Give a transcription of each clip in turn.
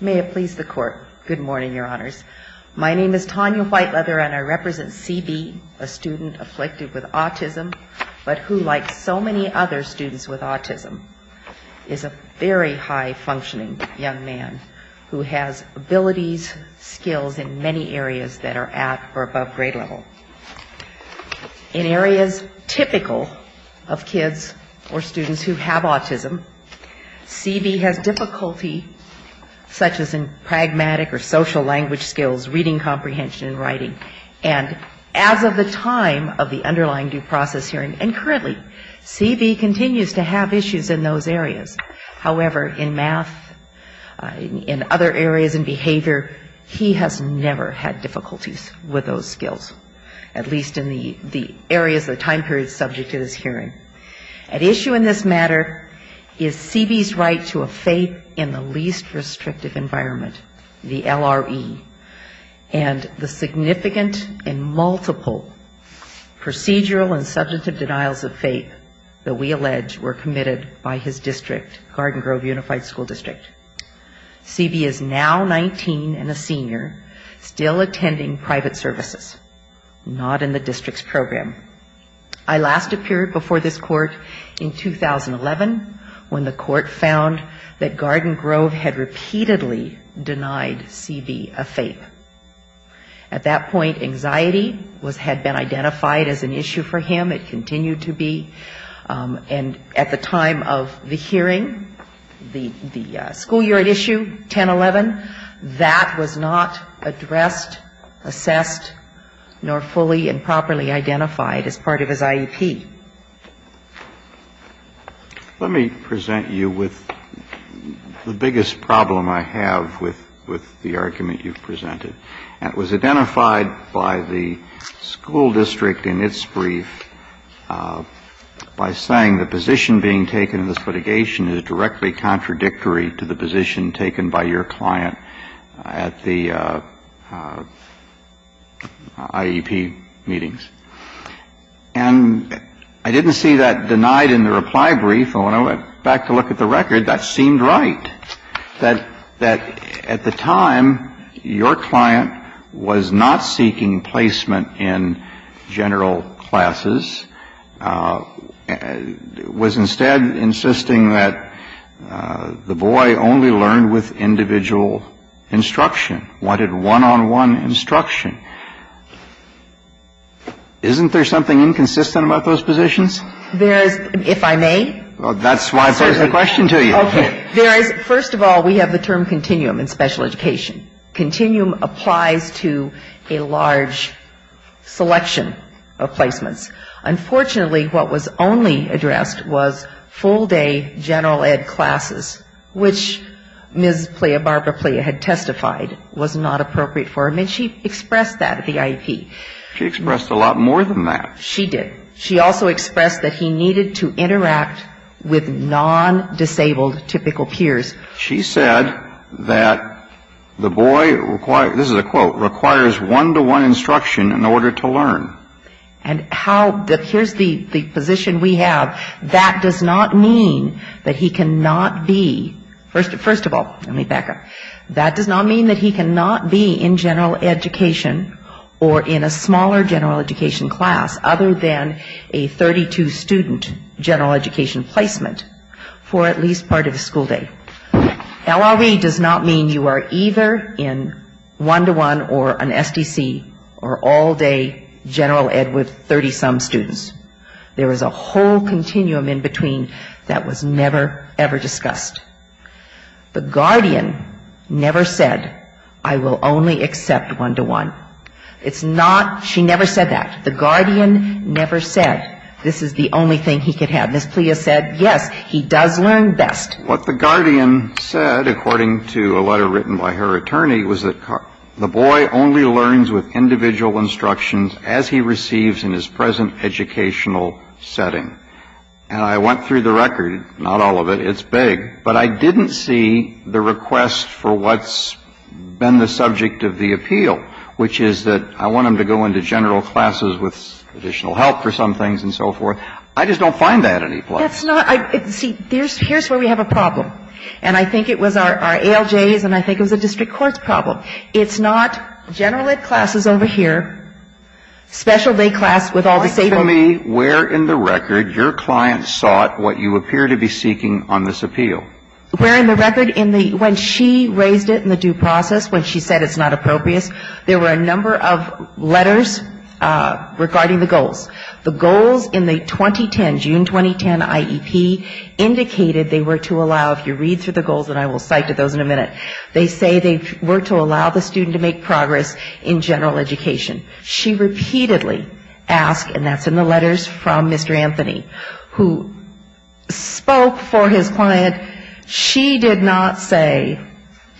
May it please the Court. Good morning, Your Honors. My name is Tanya Whiteleather and I represent C.B., a student afflicted with autism, but who, like so many other students with autism, is a very high-functioning young man who has abilities, skills in many areas that are at or above grade level. In areas typical of kids or students who have autism, C.B. has difficulty, such as in pragmatic or social language skills, reading comprehension and writing, and as of the time of the underlying due process hearing, and currently, C.B. continues to have issues in those areas. However, in math, in other areas, in behavior, he has never had difficulties with those skills, at least in the areas of the time period subject to this hearing. At issue in this matter is C.B.'s right to a faith in the least restrictive environment, the LRE, and the significant and multiple procedural and subjective denials of faith that we allege were committed by his district, Garden Grove Unified School District. C.B. is now 19 and a senior, still attending the University of Chicago, and still providing private services, not in the district's program. I last appeared before this court in 2011, when the court found that Garden Grove had repeatedly denied C.B. a faith. At that point, anxiety had been identified as an issue for him, it continued to be, and at the time of the hearing, the school year at issue, 10-11, that was not addressed by C.B. assessed nor fully and properly identified as part of his IEP. Let me present you with the biggest problem I have with the argument you've presented, and it was identified by the school district in its brief by saying the position being taken in this litigation is directly contradictory to the IEP meetings. And I didn't see that denied in the reply brief, and when I went back to look at the record, that seemed right, that at the time, your client was not seeking placement in general classes, was instead insisting that the boy only learned with individual instruction, wanted one-on-one instruction. Isn't there something inconsistent about those positions? First of all, we have the term continuum in special education. Continuum applies to a large selection of placements. Unfortunately, what was only addressed was full-day general ed classes, which, in my view, was not a good idea. Which Ms. Playa, Barbara Playa, had testified was not appropriate for him, and she expressed that at the IEP. She expressed a lot more than that. She did. She also expressed that he needed to interact with non-disabled typical peers. She said that the boy, this is a quote, requires one-to-one instruction in order to learn. And how the here's the position we have, that does not mean that he cannot be, first of all, a teacher. First of all, let me back up, that does not mean that he cannot be in general education or in a smaller general education class other than a 32-student general education placement for at least part of his school day. LRE does not mean you are either in one-to-one or an SDC or all-day general ed with 30-some students. There is a whole continuum in between that was never, ever discussed. The guardian never said, I will only accept one-to-one. It's not, she never said that. The guardian never said, this is the only thing he could have. Ms. Playa said, yes, he does learn best. What the guardian said, according to a letter written by her attorney, was that the boy only learns with individual instructions as he receives in his present educational setting. And I went through the record, not all of it, it's big, but I didn't see the request for what's been the subject of the appeal, which is that I want him to go into general classes with additional help for some things and so forth. I just don't find that any place. That's not, see, here's where we have a problem, and I think it was our ALJs and I think it was a district court's problem. It's not general ed classes over here, special day class with all the same. Where in the record your client sought what you appear to be seeking on this appeal? Where in the record in the, when she raised it in the due process, when she said it's not appropriate, there were a number of letters regarding the goals. The goals in the 2010, June 2010 IEP indicated they were to allow, if you read through the goals, and I will cite those in a minute, they say they were to allow the student to make progress in general education. She repeatedly asked, and that's in the letters from Mr. Anthony, who spoke for his client, she did not say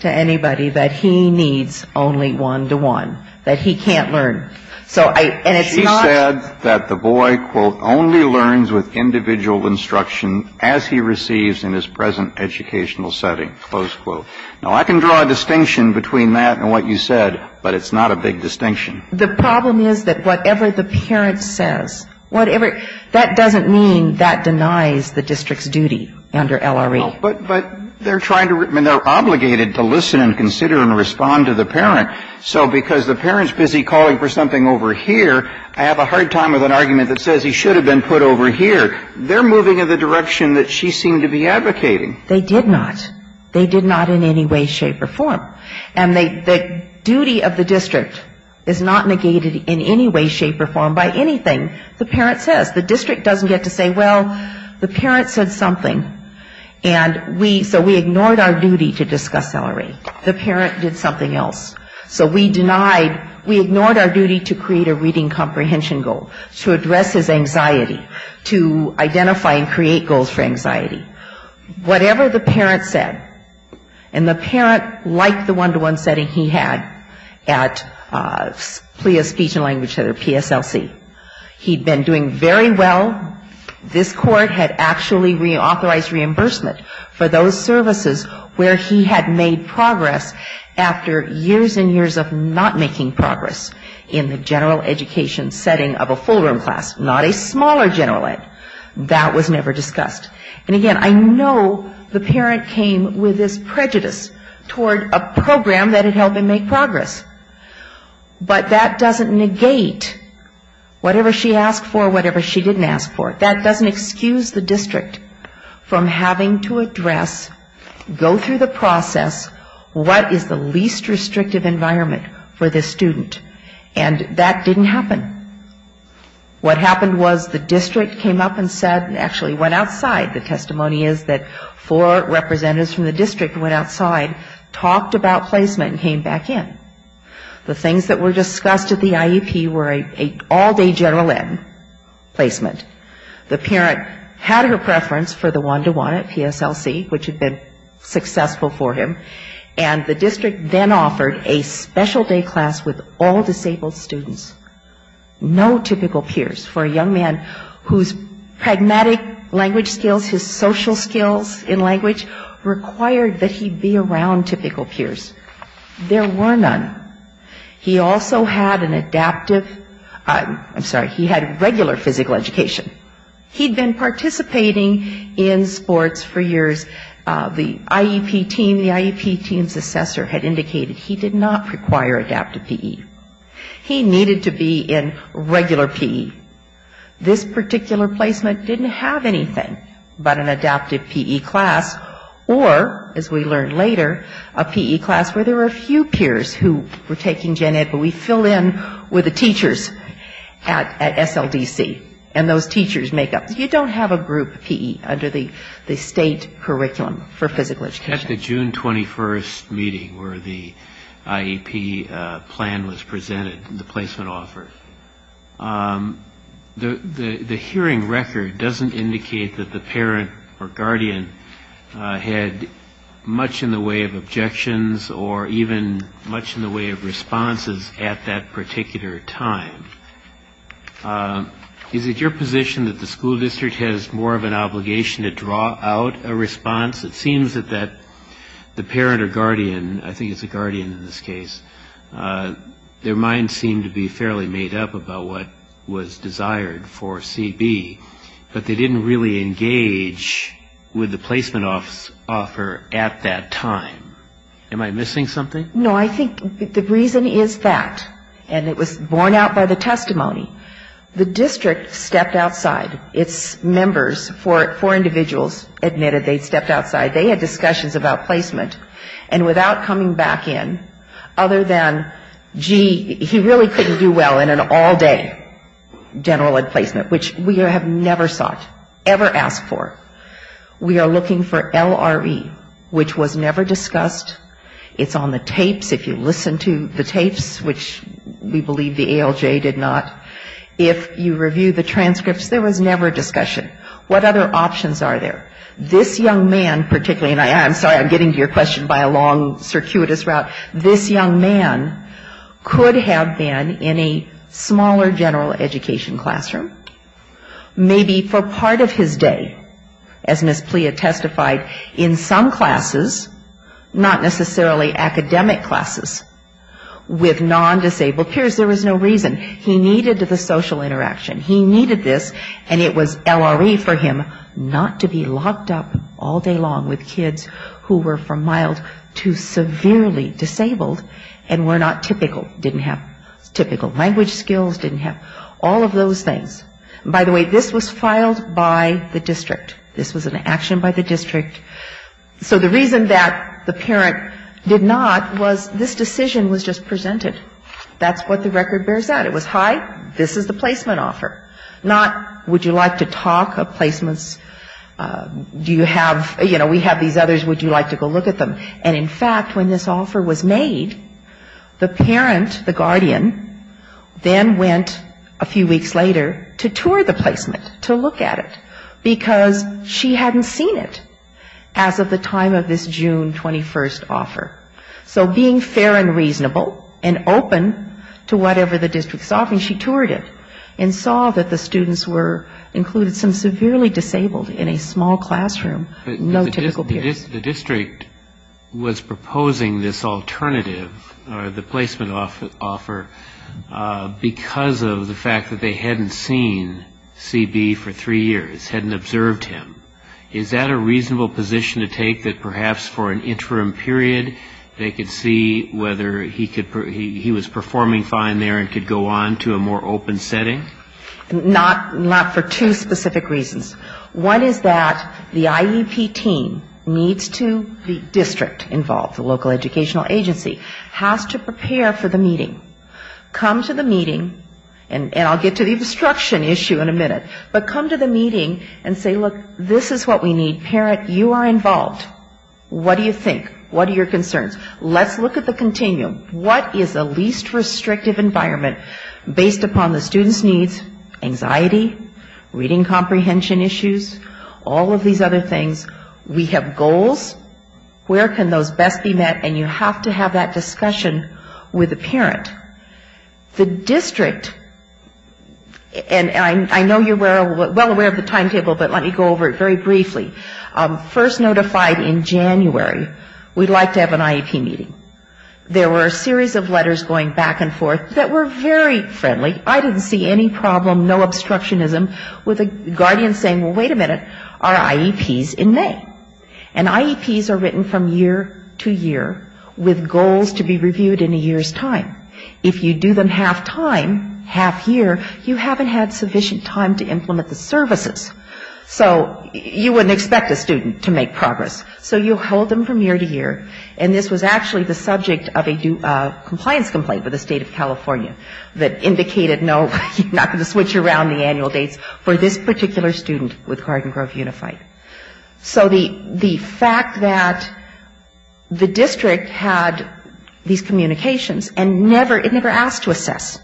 to anybody that he needs only one-to-one, that he can't learn. So I, and it's not... She said that the boy, quote, only learns with individual instruction as he receives in his present educational setting, close quote. Now, I can draw a distinction between that and what you said, but it's not a big distinction. The problem is that whatever the parent says, whatever, that doesn't mean that denies the district's duty under LRE. But they're trying to, I mean, they're obligated to listen and consider and respond to the parent. So because the parent's busy calling for something over here, I have a hard time with an argument that says he should have been put over here. They're moving in the direction that she seemed to be advocating. They did not. They did not in any way, shape, or form. And the duty of the district is not negated in any way, shape, or form by anything the parent says. The district doesn't get to say, well, the parent said something, and we, so we ignored our duty to discuss LRE. The parent did something else. So we denied, we ignored our duty to create a reading comprehension goal, to address his anxiety, to identify and create goals for anxiety. Whatever the parent said, and the parent liked the one-to-one setting he had at PLEA Speech and Language Center, PSLC. He'd been doing very well. This court had actually reauthorized reimbursement for those services where he had made progress after years and years of not making progress in the general education setting of a full-room class, not a smaller general ed. That was never discussed. And again, I know the parent came with this prejudice toward a program that had helped him make progress. But that doesn't negate whatever she asked for, whatever she didn't ask for. That doesn't excuse the district from having to address, go through the process, what is the least restrictive environment for this student. And that didn't happen. What happened was the district came up and said, actually went outside, the testimony is that four representatives from the district went outside, talked about placement and came back in. The things that were discussed at the IEP were an all-day general ed. placement. The parent had her preference for the one-to-one at PSLC, which had been successful for him, and the district then offered a special day class with all disabled students. No typical peers for a young man whose pragmatic language skills, his social skills in language required that he be around typical peers. There were none. He also had an adaptive, I'm sorry, he had regular physical education. He had been participating in sports for years. The IEP team, the IEP team's assessor had indicated he did not require adaptive PE. He needed to be in regular PE. This particular placement didn't have anything but an adaptive PE class or, as we learned later, a PE class where there were a few peers who were taking gen ed, but we filled in with the teachers at SLDC. And those teachers make up, you don't have a group PE under the state curriculum for physical education. At the June 21st meeting where the IEP plan was presented, the placement offer, the hearing record doesn't indicate that the parent or guardian had much in the way of objections or even much in the way of responses at that particular time. Is it your position that the school district has more of an obligation to draw out a response? It seems that the parent or guardian, I think it's a guardian in this case, their minds seem to be fairly made up about what was desired for CB, but they didn't really engage with the placement offer at that time. Am I missing something? No, I think the reason is that, and it was borne out by the testimony, the district stepped outside, its members, four individuals admitted they stepped outside, they had discussions about placement, and without coming back in, other than, gee, he really couldn't do well in an all day general ed placement, which we have never sought, ever asked for. We are looking for LRE, which was never discussed. It's on the tapes, if you listen to the tapes, which we believe the ALJ did not. If you review the transcripts, there was never a discussion. What other options are there? This young man, particularly, and I'm sorry, I'm getting to your question by a long, circuitous route, this young man could have been in a smaller general education classroom, maybe for part of his day. As Ms. Plea testified, in some classes, not necessarily academic classes, with non-disabled peers, there was no reason. He needed the social interaction. He needed this, and it was LRE for him not to be locked up all day long with kids who were from mild to severely disabled and were not typical, didn't have typical language skills, didn't have all of those things. By the way, this was filed by the district. This was an action by the district. So the reason that the parent did not was this decision was just presented. That's what the record bears out. It was, hi, this is the placement offer. Not, would you like to talk of placements? Do you have, you know, we have these others, would you like to go look at them? And in fact, when this offer was made, the parent, the guardian, then went a few weeks later and said, you know, this is the placement offer. And she went to the district to tour the placement, to look at it, because she hadn't seen it as of the time of this June 21st offer. So being fair and reasonable and open to whatever the district saw, she toured it and saw that the students were included, some severely disabled, in a small classroom, no typical peers. The district was proposing this alternative, or the placement offer, because of the fact that they hadn't seen it. They hadn't seen CB for three years, hadn't observed him. Is that a reasonable position to take, that perhaps for an interim period, they could see whether he could, he was performing fine there and could go on to a more open setting? Not for two specific reasons. One is that the IEP team needs to, the district involved, the local educational agency, has to prepare for the meeting. Come to the meeting, and I'll get to the obstruction issue, but the IEP team needs to prepare for the obstruction issue in a minute. But come to the meeting and say, look, this is what we need. Parent, you are involved. What do you think? What are your concerns? Let's look at the continuum. What is the least restrictive environment based upon the student's needs, anxiety, reading comprehension issues, all of these other things? We have goals. Where can those best be met? And you have to have that discussion with the parent. The district, and I know you're well aware of the timetable, but let me go over it very briefly. First notified in January, we'd like to have an IEP meeting. There were a series of letters going back and forth that were very friendly. I didn't see any problem, no obstructionism, with a guardian saying, well, wait a minute, are IEPs in May? And IEPs are written from year to year with goals to be reviewed in a year's time. If you do them half-time, half-year, you haven't had sufficient time to implement the services. So you wouldn't expect a student to make progress. So you hold them from year to year, and this was actually the subject of a compliance complaint with the State of California that indicated no, you're not going to switch around the annual dates for this particular student with Garden Grove Unified. So the fact that the district had these communications and never, it never asked to assess.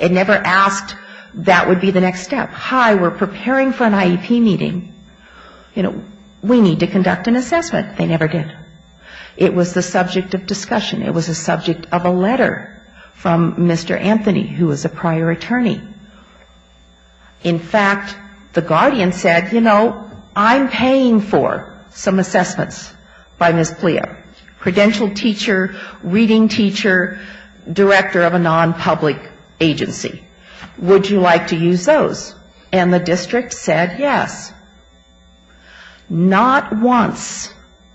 It never asked that would be the next step. Hi, we're preparing for an IEP meeting. You know, we need to conduct an assessment. They never did. It was the subject of discussion. It was the subject of a letter from Mr. Anthony, who was a prior attorney. In fact, the guardian said, you know, I'm paying for some assessments by Ms. Plea, credential teacher, reading teacher, director of a non-public agency. Would you like to use those? And the district said yes. Not once,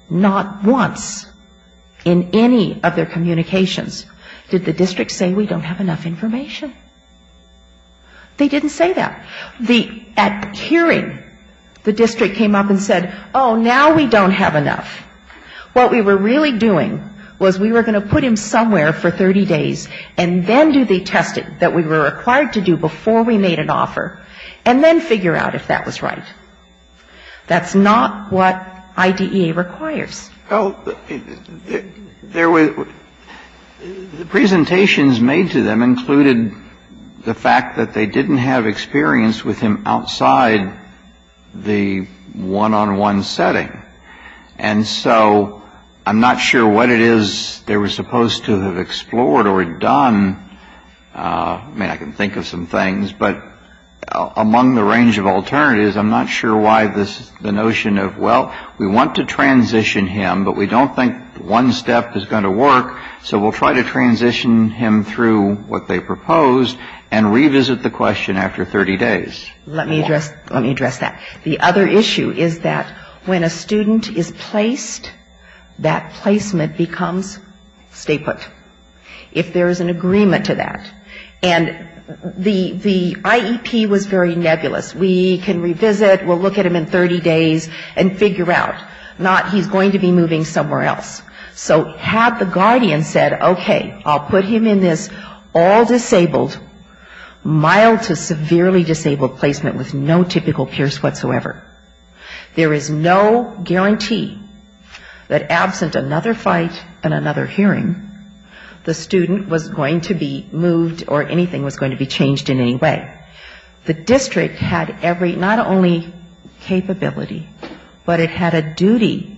not once in any of their communications did the district say we don't have enough information. They didn't say that. The, at hearing, the district came up and said, oh, now we don't have enough. What we were really doing was we were going to put him somewhere for 30 days, and then do the testing that we were required to do before we made an offer, and then figure out if that was right. That's not what IDEA requires. Well, there was, the presentations made to them included the fact that they didn't have experience with the outside the one-on-one setting. And so I'm not sure what it is they were supposed to have explored or done. I mean, I can think of some things. But among the range of alternatives, I'm not sure why the notion of, well, we want to transition him, but we don't think one step is going to work. So we'll try to transition him through what they proposed, and revisit the question after 30 days. Let me address that. The other issue is that when a student is placed, that placement becomes stapled, if there is an agreement to that. And the IEP was very nebulous. We can revisit, we'll look at him in 30 days, and figure out. Not he's going to be moving somewhere else. So have the guardian said, okay, I'll put him in this, all this information is going to be in this. And if he's disabled, mild to severely disabled placement with no typical pierce whatsoever, there is no guarantee that absent another fight and another hearing, the student was going to be moved or anything was going to be changed in any way. The district had every, not only capability, but it had a duty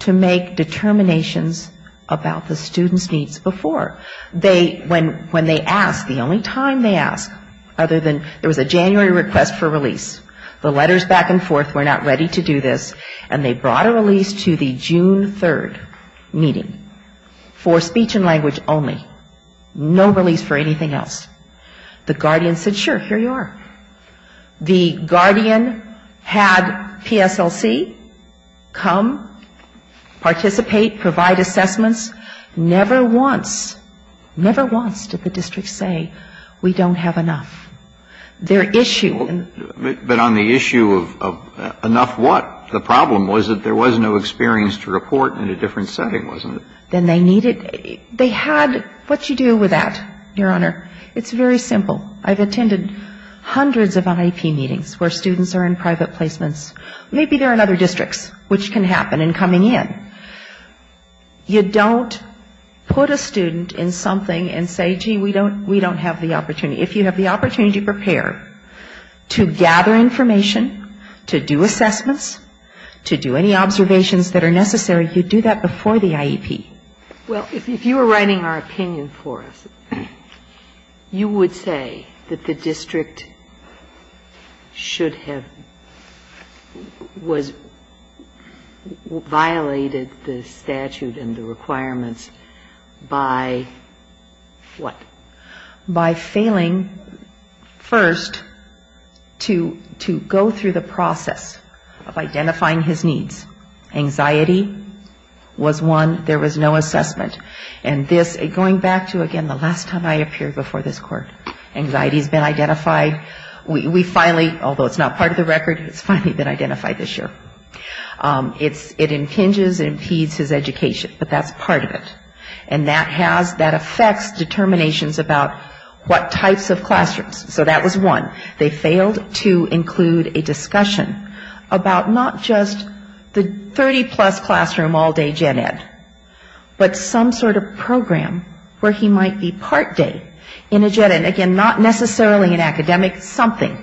to make determinations about the student's needs before. They, when they asked, the only time they asked, other than there was a January request for release, the letters back and forth were not ready to do this, and they brought a release to the June 3rd meeting for speech and language only. No release for anything else. The guardian said, sure, here you are. The guardian had PSLC come, participate, provide assessments. Never once, never once did the district say, we don't have enough. Their issue in But on the issue of enough what? The problem was that there was no experience to report in a different setting, wasn't it? Then they needed, they had, what do you do with that, Your Honor? It's very simple. I've attended hundreds of IEP meetings where students are in private placements. Maybe they're in other districts, which can happen in coming in. You don't put a student in something and say, gee, we don't have the opportunity. If you have the opportunity to prepare, to gather information, to do assessments, to do any observations that are necessary, you do that before the IEP. Ginsburg Well, if you were writing our opinion for us, you would say that the district should have, was, should have violated the statute and the requirements by what? By failing first to go through the process of identifying his needs. Anxiety was one. There was no assessment. And this, going back to, again, the last time I appeared before this Court, anxiety has been identified. We finally, although it's not part of the record, it's finally been identified this year. It impinges and impedes his education. But that's part of it. And that has, that affects determinations about what types of classrooms. So that was one. They failed to include a discussion about not just the 30-plus classroom all-day gen ed, but some sort of program where he might be part day in a gen ed. Again, not necessarily an academic, something.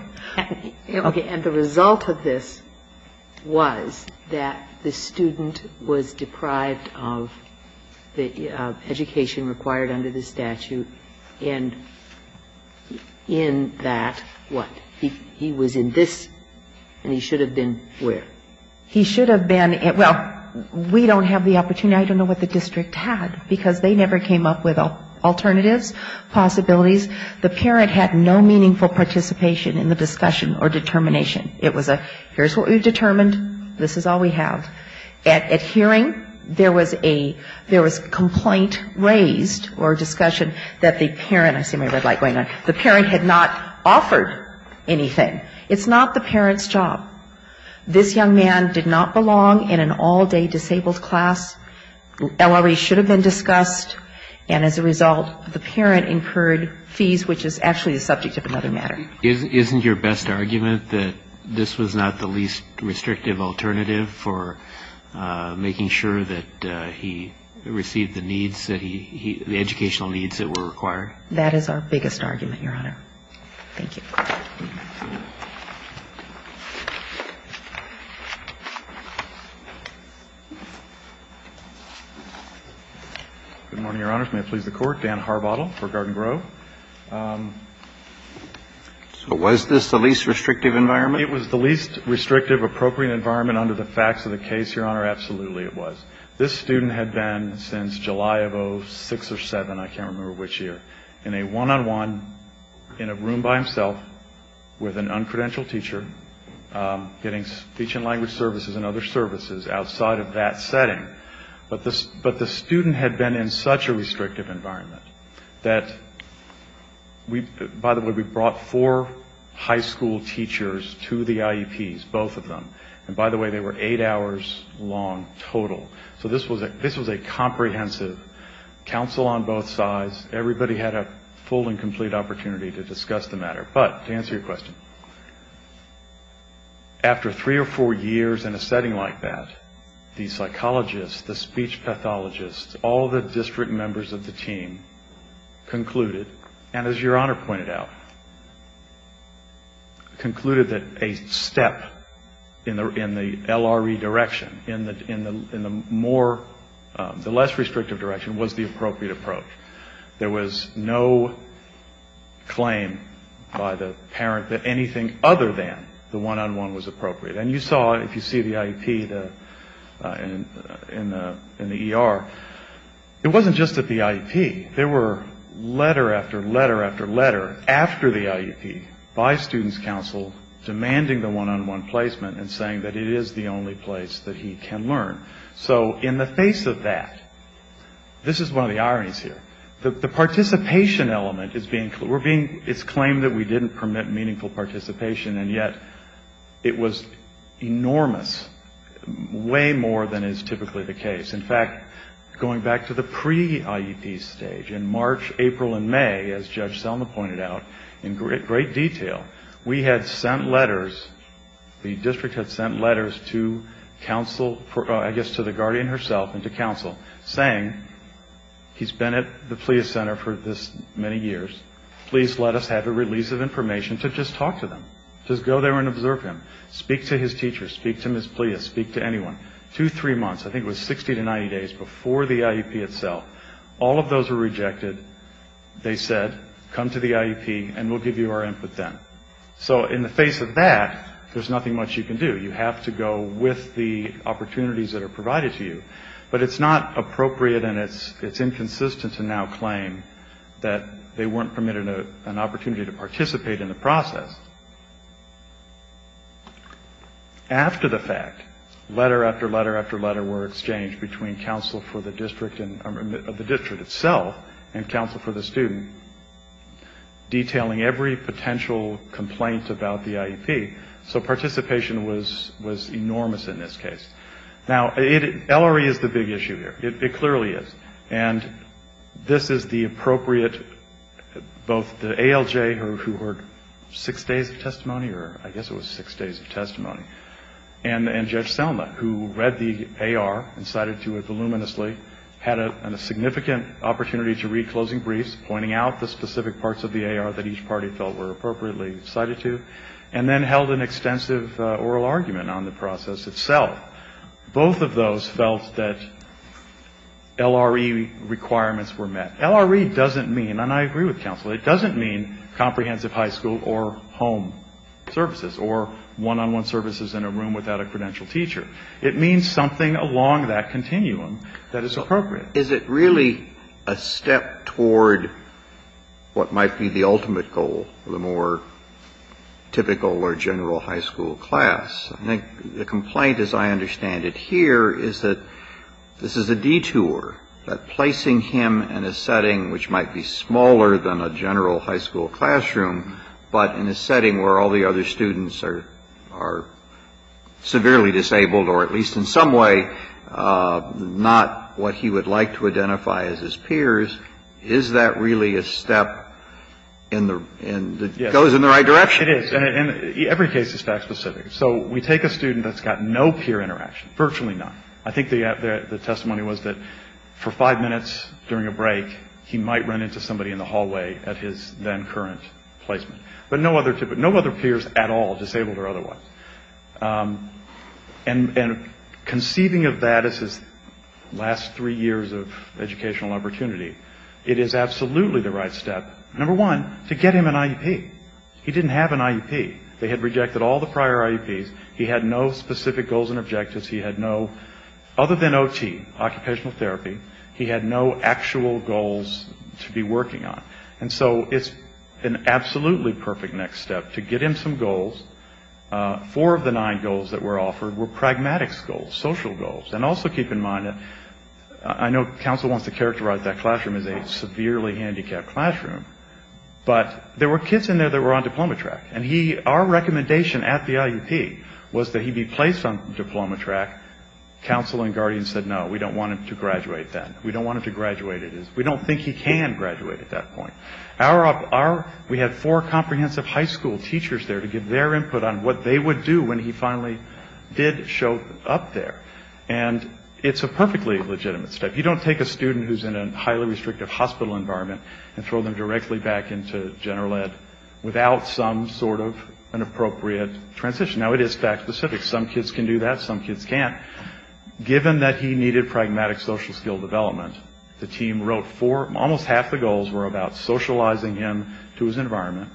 And the result of this was that the student was deprived of the education required under the statute, and in that, what? He was in this, and he should have been where? He should have been, well, we don't have the opportunity. I don't know what the district had, because they never came up with a discussion or determination. It was a, here's what we've determined, this is all we have. At hearing, there was a, there was complaint raised or discussion that the parent, I see my red light going on, the parent had not offered anything. It's not the parent's job. This young man did not belong in an all-day disabled class. LRE should have been discussed. And as a result, the parent incurred fees, which is actually the subject of another matter. Isn't your best argument that this was not the least restrictive alternative for making sure that he received the needs, the educational needs that were required? Good morning, Your Honors. May I please the Court? Dan Harbottle for Garden Grove. So was this the least restrictive environment? It was the least restrictive, appropriate environment under the facts of the case, Your Honor. Absolutely, it was. This student had been, since July of 06 or 07, I can't remember which year, in a one-on-one, in a room by himself, with an uncredentialed teacher, getting speech and language services and other services outside of that setting. But the student had been in such a restrictive environment that we, by the way, we brought four high school teachers to the IEPs, both of them. And by the way, they were eight hours long total. So this was a comprehensive counsel on both sides. Everybody had a full and complete opportunity to discuss the matter. But, to answer your question, after three or four years in a setting like that, the psychologists, the speech pathologists, all the district members of the team concluded, and as Your Honor pointed out, that this was not the least restrictive environment. They concluded that a step in the LRE direction, in the more, the less restrictive direction, was the appropriate approach. There was no claim by the parent that anything other than the one-on-one was appropriate. And you saw, if you see the IEP in the ER, it wasn't just at the IEP. There were letter after letter after letter, after the IEP, by student's counsel, demanding the one-on-one placement and saying that it is the only place that he can learn. So, in the face of that, this is one of the ironies here, the participation element is being, we're being, it's claimed that we didn't permit meaningful participation, and yet it was enormous, way more than is typically the case. In fact, going back to the pre-IEP stage, in March, April, and May, as Judge Selma pointed out in great detail, we had sent letters, the district had sent letters to counsel, I guess to the guardian herself and to counsel, saying, he's been at the Pleas Center for this many years, please let us have a release of information to just talk to them, just go there and observe him, speak to his teachers, speak to Ms. Pleas, speak to anyone. And in fact, within 90 days, before the IEP itself, all of those were rejected, they said, come to the IEP and we'll give you our input then. So, in the face of that, there's nothing much you can do, you have to go with the opportunities that are provided to you, but it's not appropriate and it's inconsistent to now claim that they weren't permitted an opportunity to participate in the process. After the fact, letter after letter after letter were exchanged between counsel for the district, of the district itself, and counsel for the student, detailing every potential complaint about the IEP, so participation was enormous in this case. Now, LRE is the big issue here, it clearly is, and this is the appropriate, both the ALJ, who heard six days ago, and the judge Selma, who read the AR and cited to it voluminously, had a significant opportunity to read closing briefs, pointing out the specific parts of the AR that each party felt were appropriately cited to, and then held an extensive oral argument on the process itself. Both of those felt that LRE requirements were met. LRE doesn't mean, and I agree with counsel, it doesn't mean comprehensive high school or home services, or one-on-one services in a room without a credentialed teacher. It means something along that continuum that is appropriate. Is it really a step toward what might be the ultimate goal, the more typical or general high school class? I think the complaint, as I said, is that in a setting which might be smaller than a general high school classroom, but in a setting where all the other students are severely disabled, or at least in some way not what he would like to identify as his peers, is that really a step that goes in the right direction? It is. And every case is fact-specific. So we take a student that's got no peer interaction, virtually none. I think the testimony was that for five minutes during a break, he might run into somebody in the hallway at his then-current placement. But no other peers at all, disabled or otherwise. And conceiving of that as his last three years of educational opportunity, it is absolutely the right step, number one, to get him some goals. Four of the nine goals that were offered were pragmatics goals, social goals. And also keep in mind that I know council wants to characterize that classroom as a severely handicapped classroom, but there were kids in there that were on diploma track. And our recommendation at the IUP was that he be placed on diploma track. Council and guardians said, no, we don't want him to graduate then. We don't want him to graduate at this. We don't think he can graduate at that point. We had four comprehensive high school teachers there to give their input on what they would do when he finally did show up there. And it's a perfectly legitimate step. You don't take a student who's in a highly restrictive hospital environment and throw them directly back into general ed without seeing a some sort of an appropriate transition. Now, it is fact-specific. Some kids can do that. Some kids can't. Given that he needed pragmatic social skill development, the team wrote four, almost half the goals were about socializing him to his environment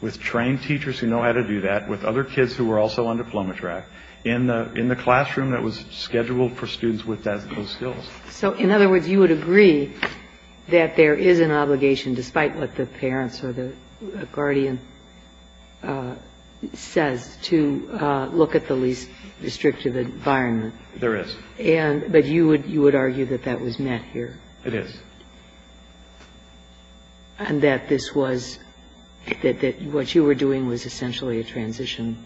with trained teachers who know how to do that, with other kids who were also on diploma track, in the classroom that was scheduled for students with those skills. So, in other words, you would agree that there is an obligation, despite what the parents or the guardian said, to do. And that's what the IEP says, to look at the least restrictive environment. There is. But you would argue that that was met here. It is. And that this was, that what you were doing was essentially a transition.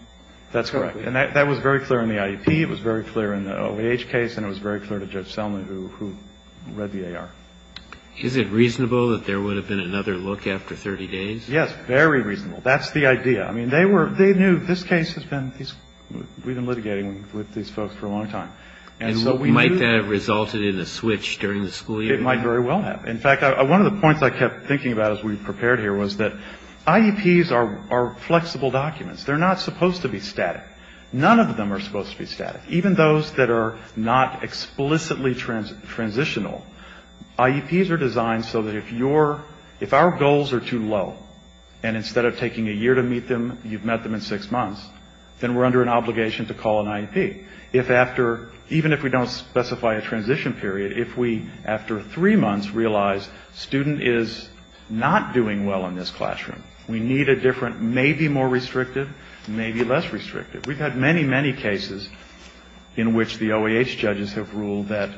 That's correct. And that was very clear in the IEP. It was very clear in the OAH case. And it was very clear to Judge Selman, who read the AR. Is it reasonable that there would have been another look after 30 days? Yes, very reasonable. That's the idea. I mean, they were, they knew, this case has been, we've been litigating with these folks for a long time. And so we knew. And might that have resulted in a switch during the school year? It might very well have. In fact, one of the points I kept thinking about as we prepared here was that IEPs are flexible documents. They're not supposed to be static. None of them are supposed to be static. Even those that are not explicitly transitional, IEPs are designed so that if you're, if our goals are too low, we're not going to be able to meet them, and instead of taking a year to meet them, you've met them in six months, then we're under an obligation to call an IEP. If after, even if we don't specify a transition period, if we, after three months, realize student is not doing well in this classroom, we need a different, maybe more restrictive, maybe less restrictive. We've had many, many cases in which the OAH judges have ruled that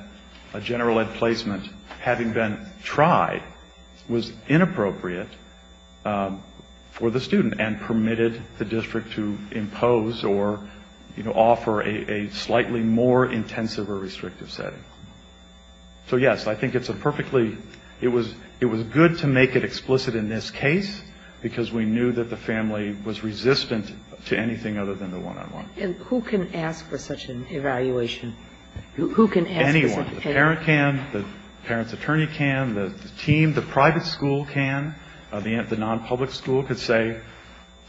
a general ed placement, having been tried, was inappropriate. For the student, and permitted the district to impose or, you know, offer a slightly more intensive or restrictive setting. So, yes, I think it's a perfectly, it was good to make it explicit in this case, because we knew that the family was resistant to anything other than the one-on-one. And who can ask for such an evaluation? Who can ask? Anyone. The parent can. The parent's attorney can. The team, the private school can. The non-public school can say,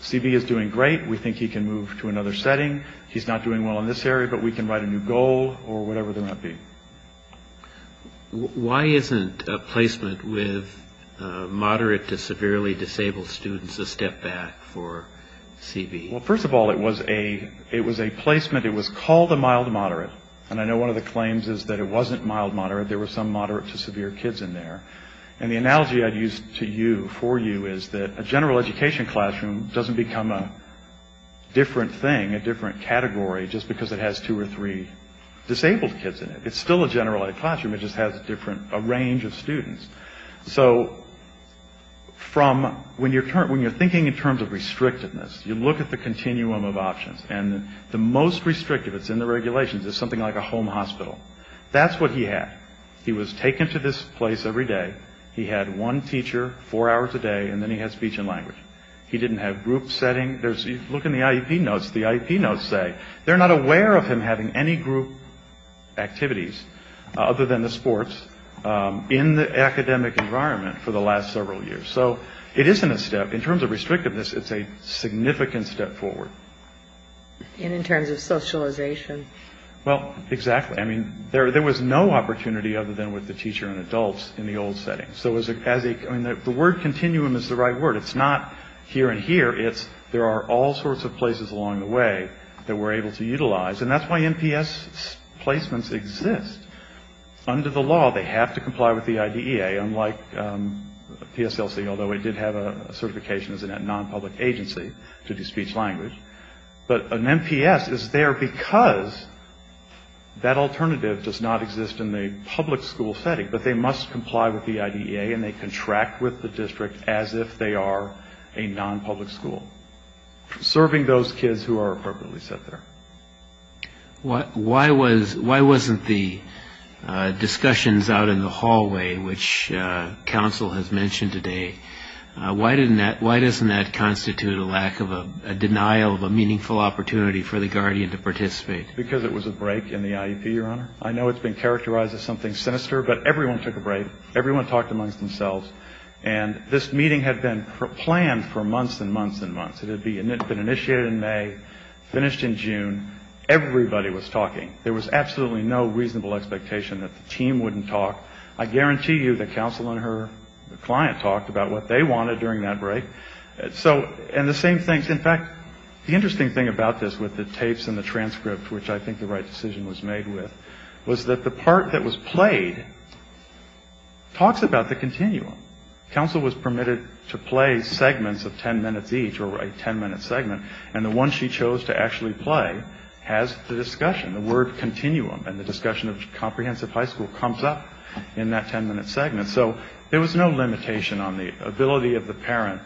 CB is doing great, we think he can move to another setting. He's not doing well in this area, but we can write a new goal, or whatever the IEP. Why isn't a placement with moderate to severely disabled students a step back for CB? Well, first of all, it was a placement, it was called a mild-moderate, and I know one of the claims is that it wasn't mild-moderate, there were some moderate to severe kids in there. And the analogy I'd use to you, for you, is that a general education classroom doesn't become a different thing, a different category, just because it has two or three disabled kids in it. It's still a general ed classroom, it just has a different, a range of students. So, from, when you're thinking in terms of restrictiveness, you look at the continuum of options, and the most restrictive that's in the regulations is something like a home hospital. That's what he had. He was taken to this place every day, he had one teacher, four hours a day, and then he had speech and language. He didn't have group setting, there's, look in the IEP notes, the IEP notes say, they're not aware of him having any group activities, other than the sports, in the academic environment for the last several years. So, it isn't a step, in terms of restrictiveness, it's a significant step forward. And in terms of socialization. Well, exactly, I mean, there was no opportunity other than with the teacher and adults in the old settings. So, as a, I mean, the word continuum is the right word, it's not here and here, it's there are all sorts of places along the way that we're able to utilize, and that's why MPS placements exist. Under the law, they have to comply with the IDEA, unlike PSLC, although it did have a certification as a non-public agency to do speech language. But an MPS is there because that alternative does not exist in the public school setting, but they must comply with the IDEA, and they contract with the district as if they are a non-public school. Serving those kids who are appropriately set there. Why wasn't the discussions out in the hallway, which counsel has mentioned today, why doesn't that constitute a lack of a denial of a meaningful opportunity for the guardian to participate? Because it was a break in the IEP, Your Honor. I know it's been characterized as something sinister, but everyone took a break, everyone talked amongst themselves, and this meeting had been planned for months and months and months. It had been initiated in May, finished in June, everybody was talking. There was absolutely no reasonable expectation that the team wouldn't talk. I guarantee you that counsel and her client talked about what they wanted during that break. And the same thing, in fact, the interesting thing about this with the tapes and the transcript, which I think the right decision was made with, was that the part that was played talks about the continuum. Counsel was permitted to play segments of 10 minutes each or a 10-minute segment, and the one she chose to actually play has the discussion, the word continuum, and the discussion of comprehensive high school comes up in that 10-minute segment. So there was no limitation on the ability of the parent.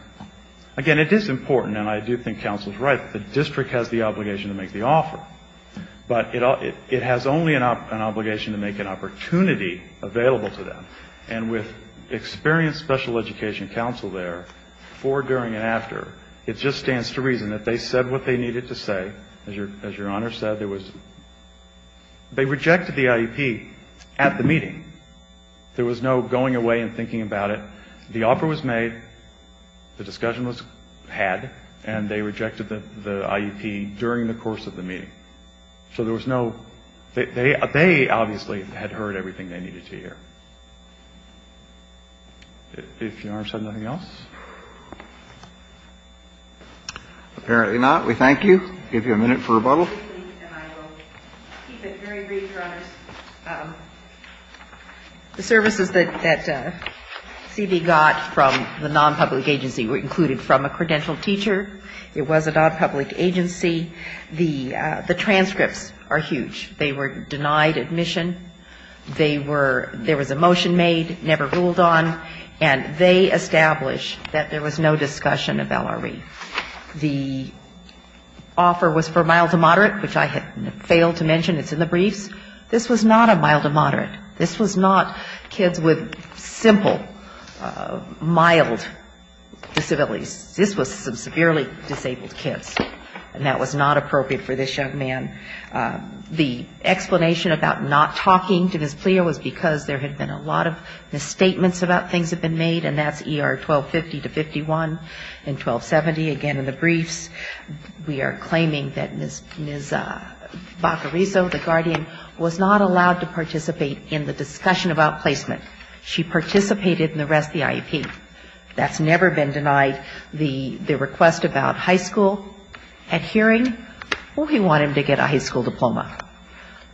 Again, it is important, and I do think counsel is right, that the district has the obligation to make the offer, but it has only an obligation to make an opportunity available to them. And with experienced special education counsel there, before, during, and after, it just stands to reason that they said what they needed to say. As Your Honor said, there was they rejected the IEP at the meeting. There was no going away and thinking about it. The offer was made, the discussion was had, and they rejected the IEP during the course of the meeting. So there was no they obviously had heard everything they needed to hear. If Your Honor said nothing else. Apparently not. We thank you. Give you a minute for rebuttal. And I will keep it very brief, Your Honors. The services that CB got from the nonpublic agency were included from a credentialed teacher. It was a nonpublic agency. The transcripts are huge. They were denied admission. They were, there was a motion made, never ruled on, and they established that there was no discussion of LRE. The offer was for mild to moderate, which I failed to mention. It's in the briefs. This was not a mild to moderate. This was not kids with simple, mild disabilities. This was severely disabled kids, and that was not appropriate for this young man. The explanation about not talking to Ms. Pleo was because there had been a lot of misstatements about things that had been made, and that's ER 1250-51 and 1270, again in the briefs. We are claiming that Ms. Baccariso, the guardian, was not allowed to participate in the discussion about placement. She participated in the rest of the IEP. That's never been denied. The request about high school, at hearing, we want him to get a high school diploma.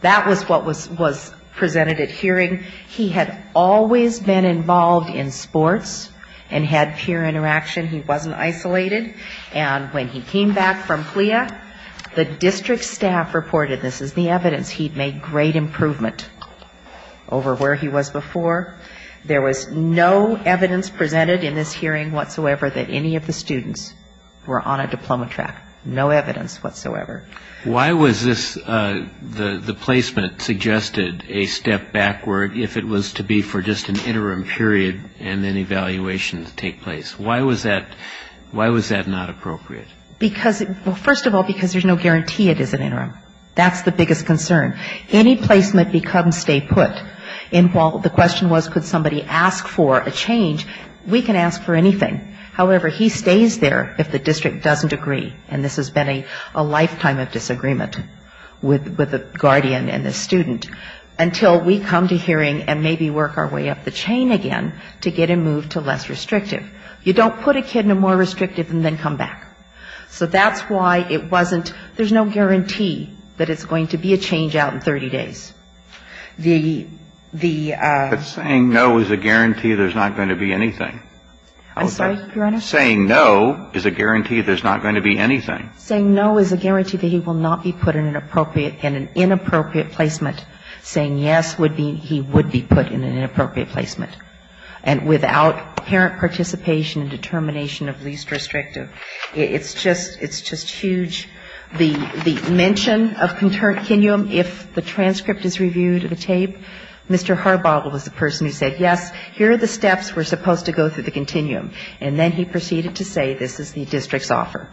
That was what was presented at hearing. He had always been involved in sports and had peer interaction. He wasn't isolated. And when he came back from CLIA, the district staff reported this as the evidence he'd made great improvement over where he was before. There was no evidence presented in this hearing whatsoever that any of the students were on a diploma track. No evidence whatsoever. Why was this, the placement, suggested a step backward if it was to be for just an interim period and then evaluation to take place? Why was that not appropriate? Because, well, first of all, because there's no guarantee it is an interim. That's the biggest concern. Any placement becomes stay put. And while the question was could somebody ask for a change, we can ask for anything. However, he stays there if the district doesn't agree, and this has been a lifetime of disagreement with the guardian and the student, until we come to hearing and maybe work our way up the chain again to get him moved to less restrictive. You don't put a kid in a more restrictive and then come back. So that's why it wasn't, there's no guarantee that it's going to be a change out in 30 days. The ---- But saying no is a guarantee there's not going to be anything. I'm sorry, Your Honor? Saying no is a guarantee there's not going to be anything. Saying no is a guarantee that he will not be put in an inappropriate placement. Saying yes would mean he would be put in an inappropriate placement. And without parent participation and determination of least restrictive, it's just huge. The mention of continuum, if the transcript is reviewed in the tape, Mr. Harbaugh was the person who said yes, here are the steps, we're supposed to go through the continuum. And then he proceeded to say this is the district's offer.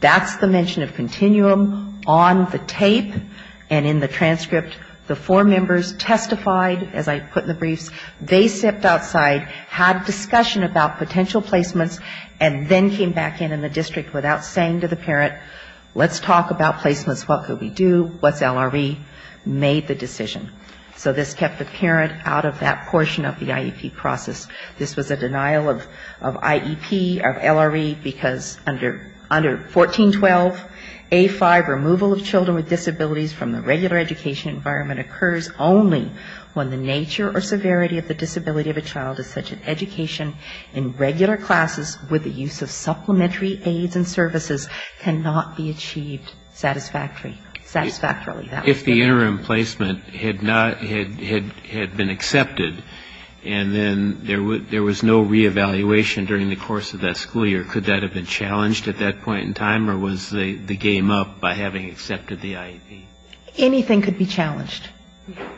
That's the mention of continuum on the tape and in the transcript. The four members testified, as I put in the briefs, they stepped outside, had discussion about potential placements, and then came back in in the district without saying to the parent, let's talk about placements, what could we do, what's LRE, made the decision. So this kept the parent out of that portion of the IEP process. This was a denial of IEP, of LRE, because under 1412A5, removal of children with disabilities from the regular education environment occurs only when the nature or severity of the disability of a child is such that education in regular classes with the use of supplementary aids and services cannot be achieved satisfactorily. Satisfactorily. If the interim placement had been accepted and then there was no reevaluation during the course of that school year, could that have been challenged at that point in time, or was the game up by having accepted the IEP? Anything could be challenged.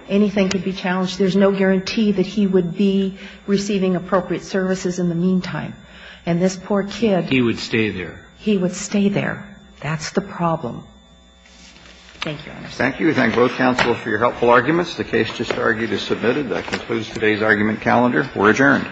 Anything could be challenged. There's no guarantee that he would be receiving appropriate services in the meantime. And this poor kid. He would stay there. He would stay there. That's the problem. Thank you, Your Honor. Thank you. We thank both counsel for your helpful arguments. The case just argued is submitted. That concludes today's argument calendar. We're adjourned.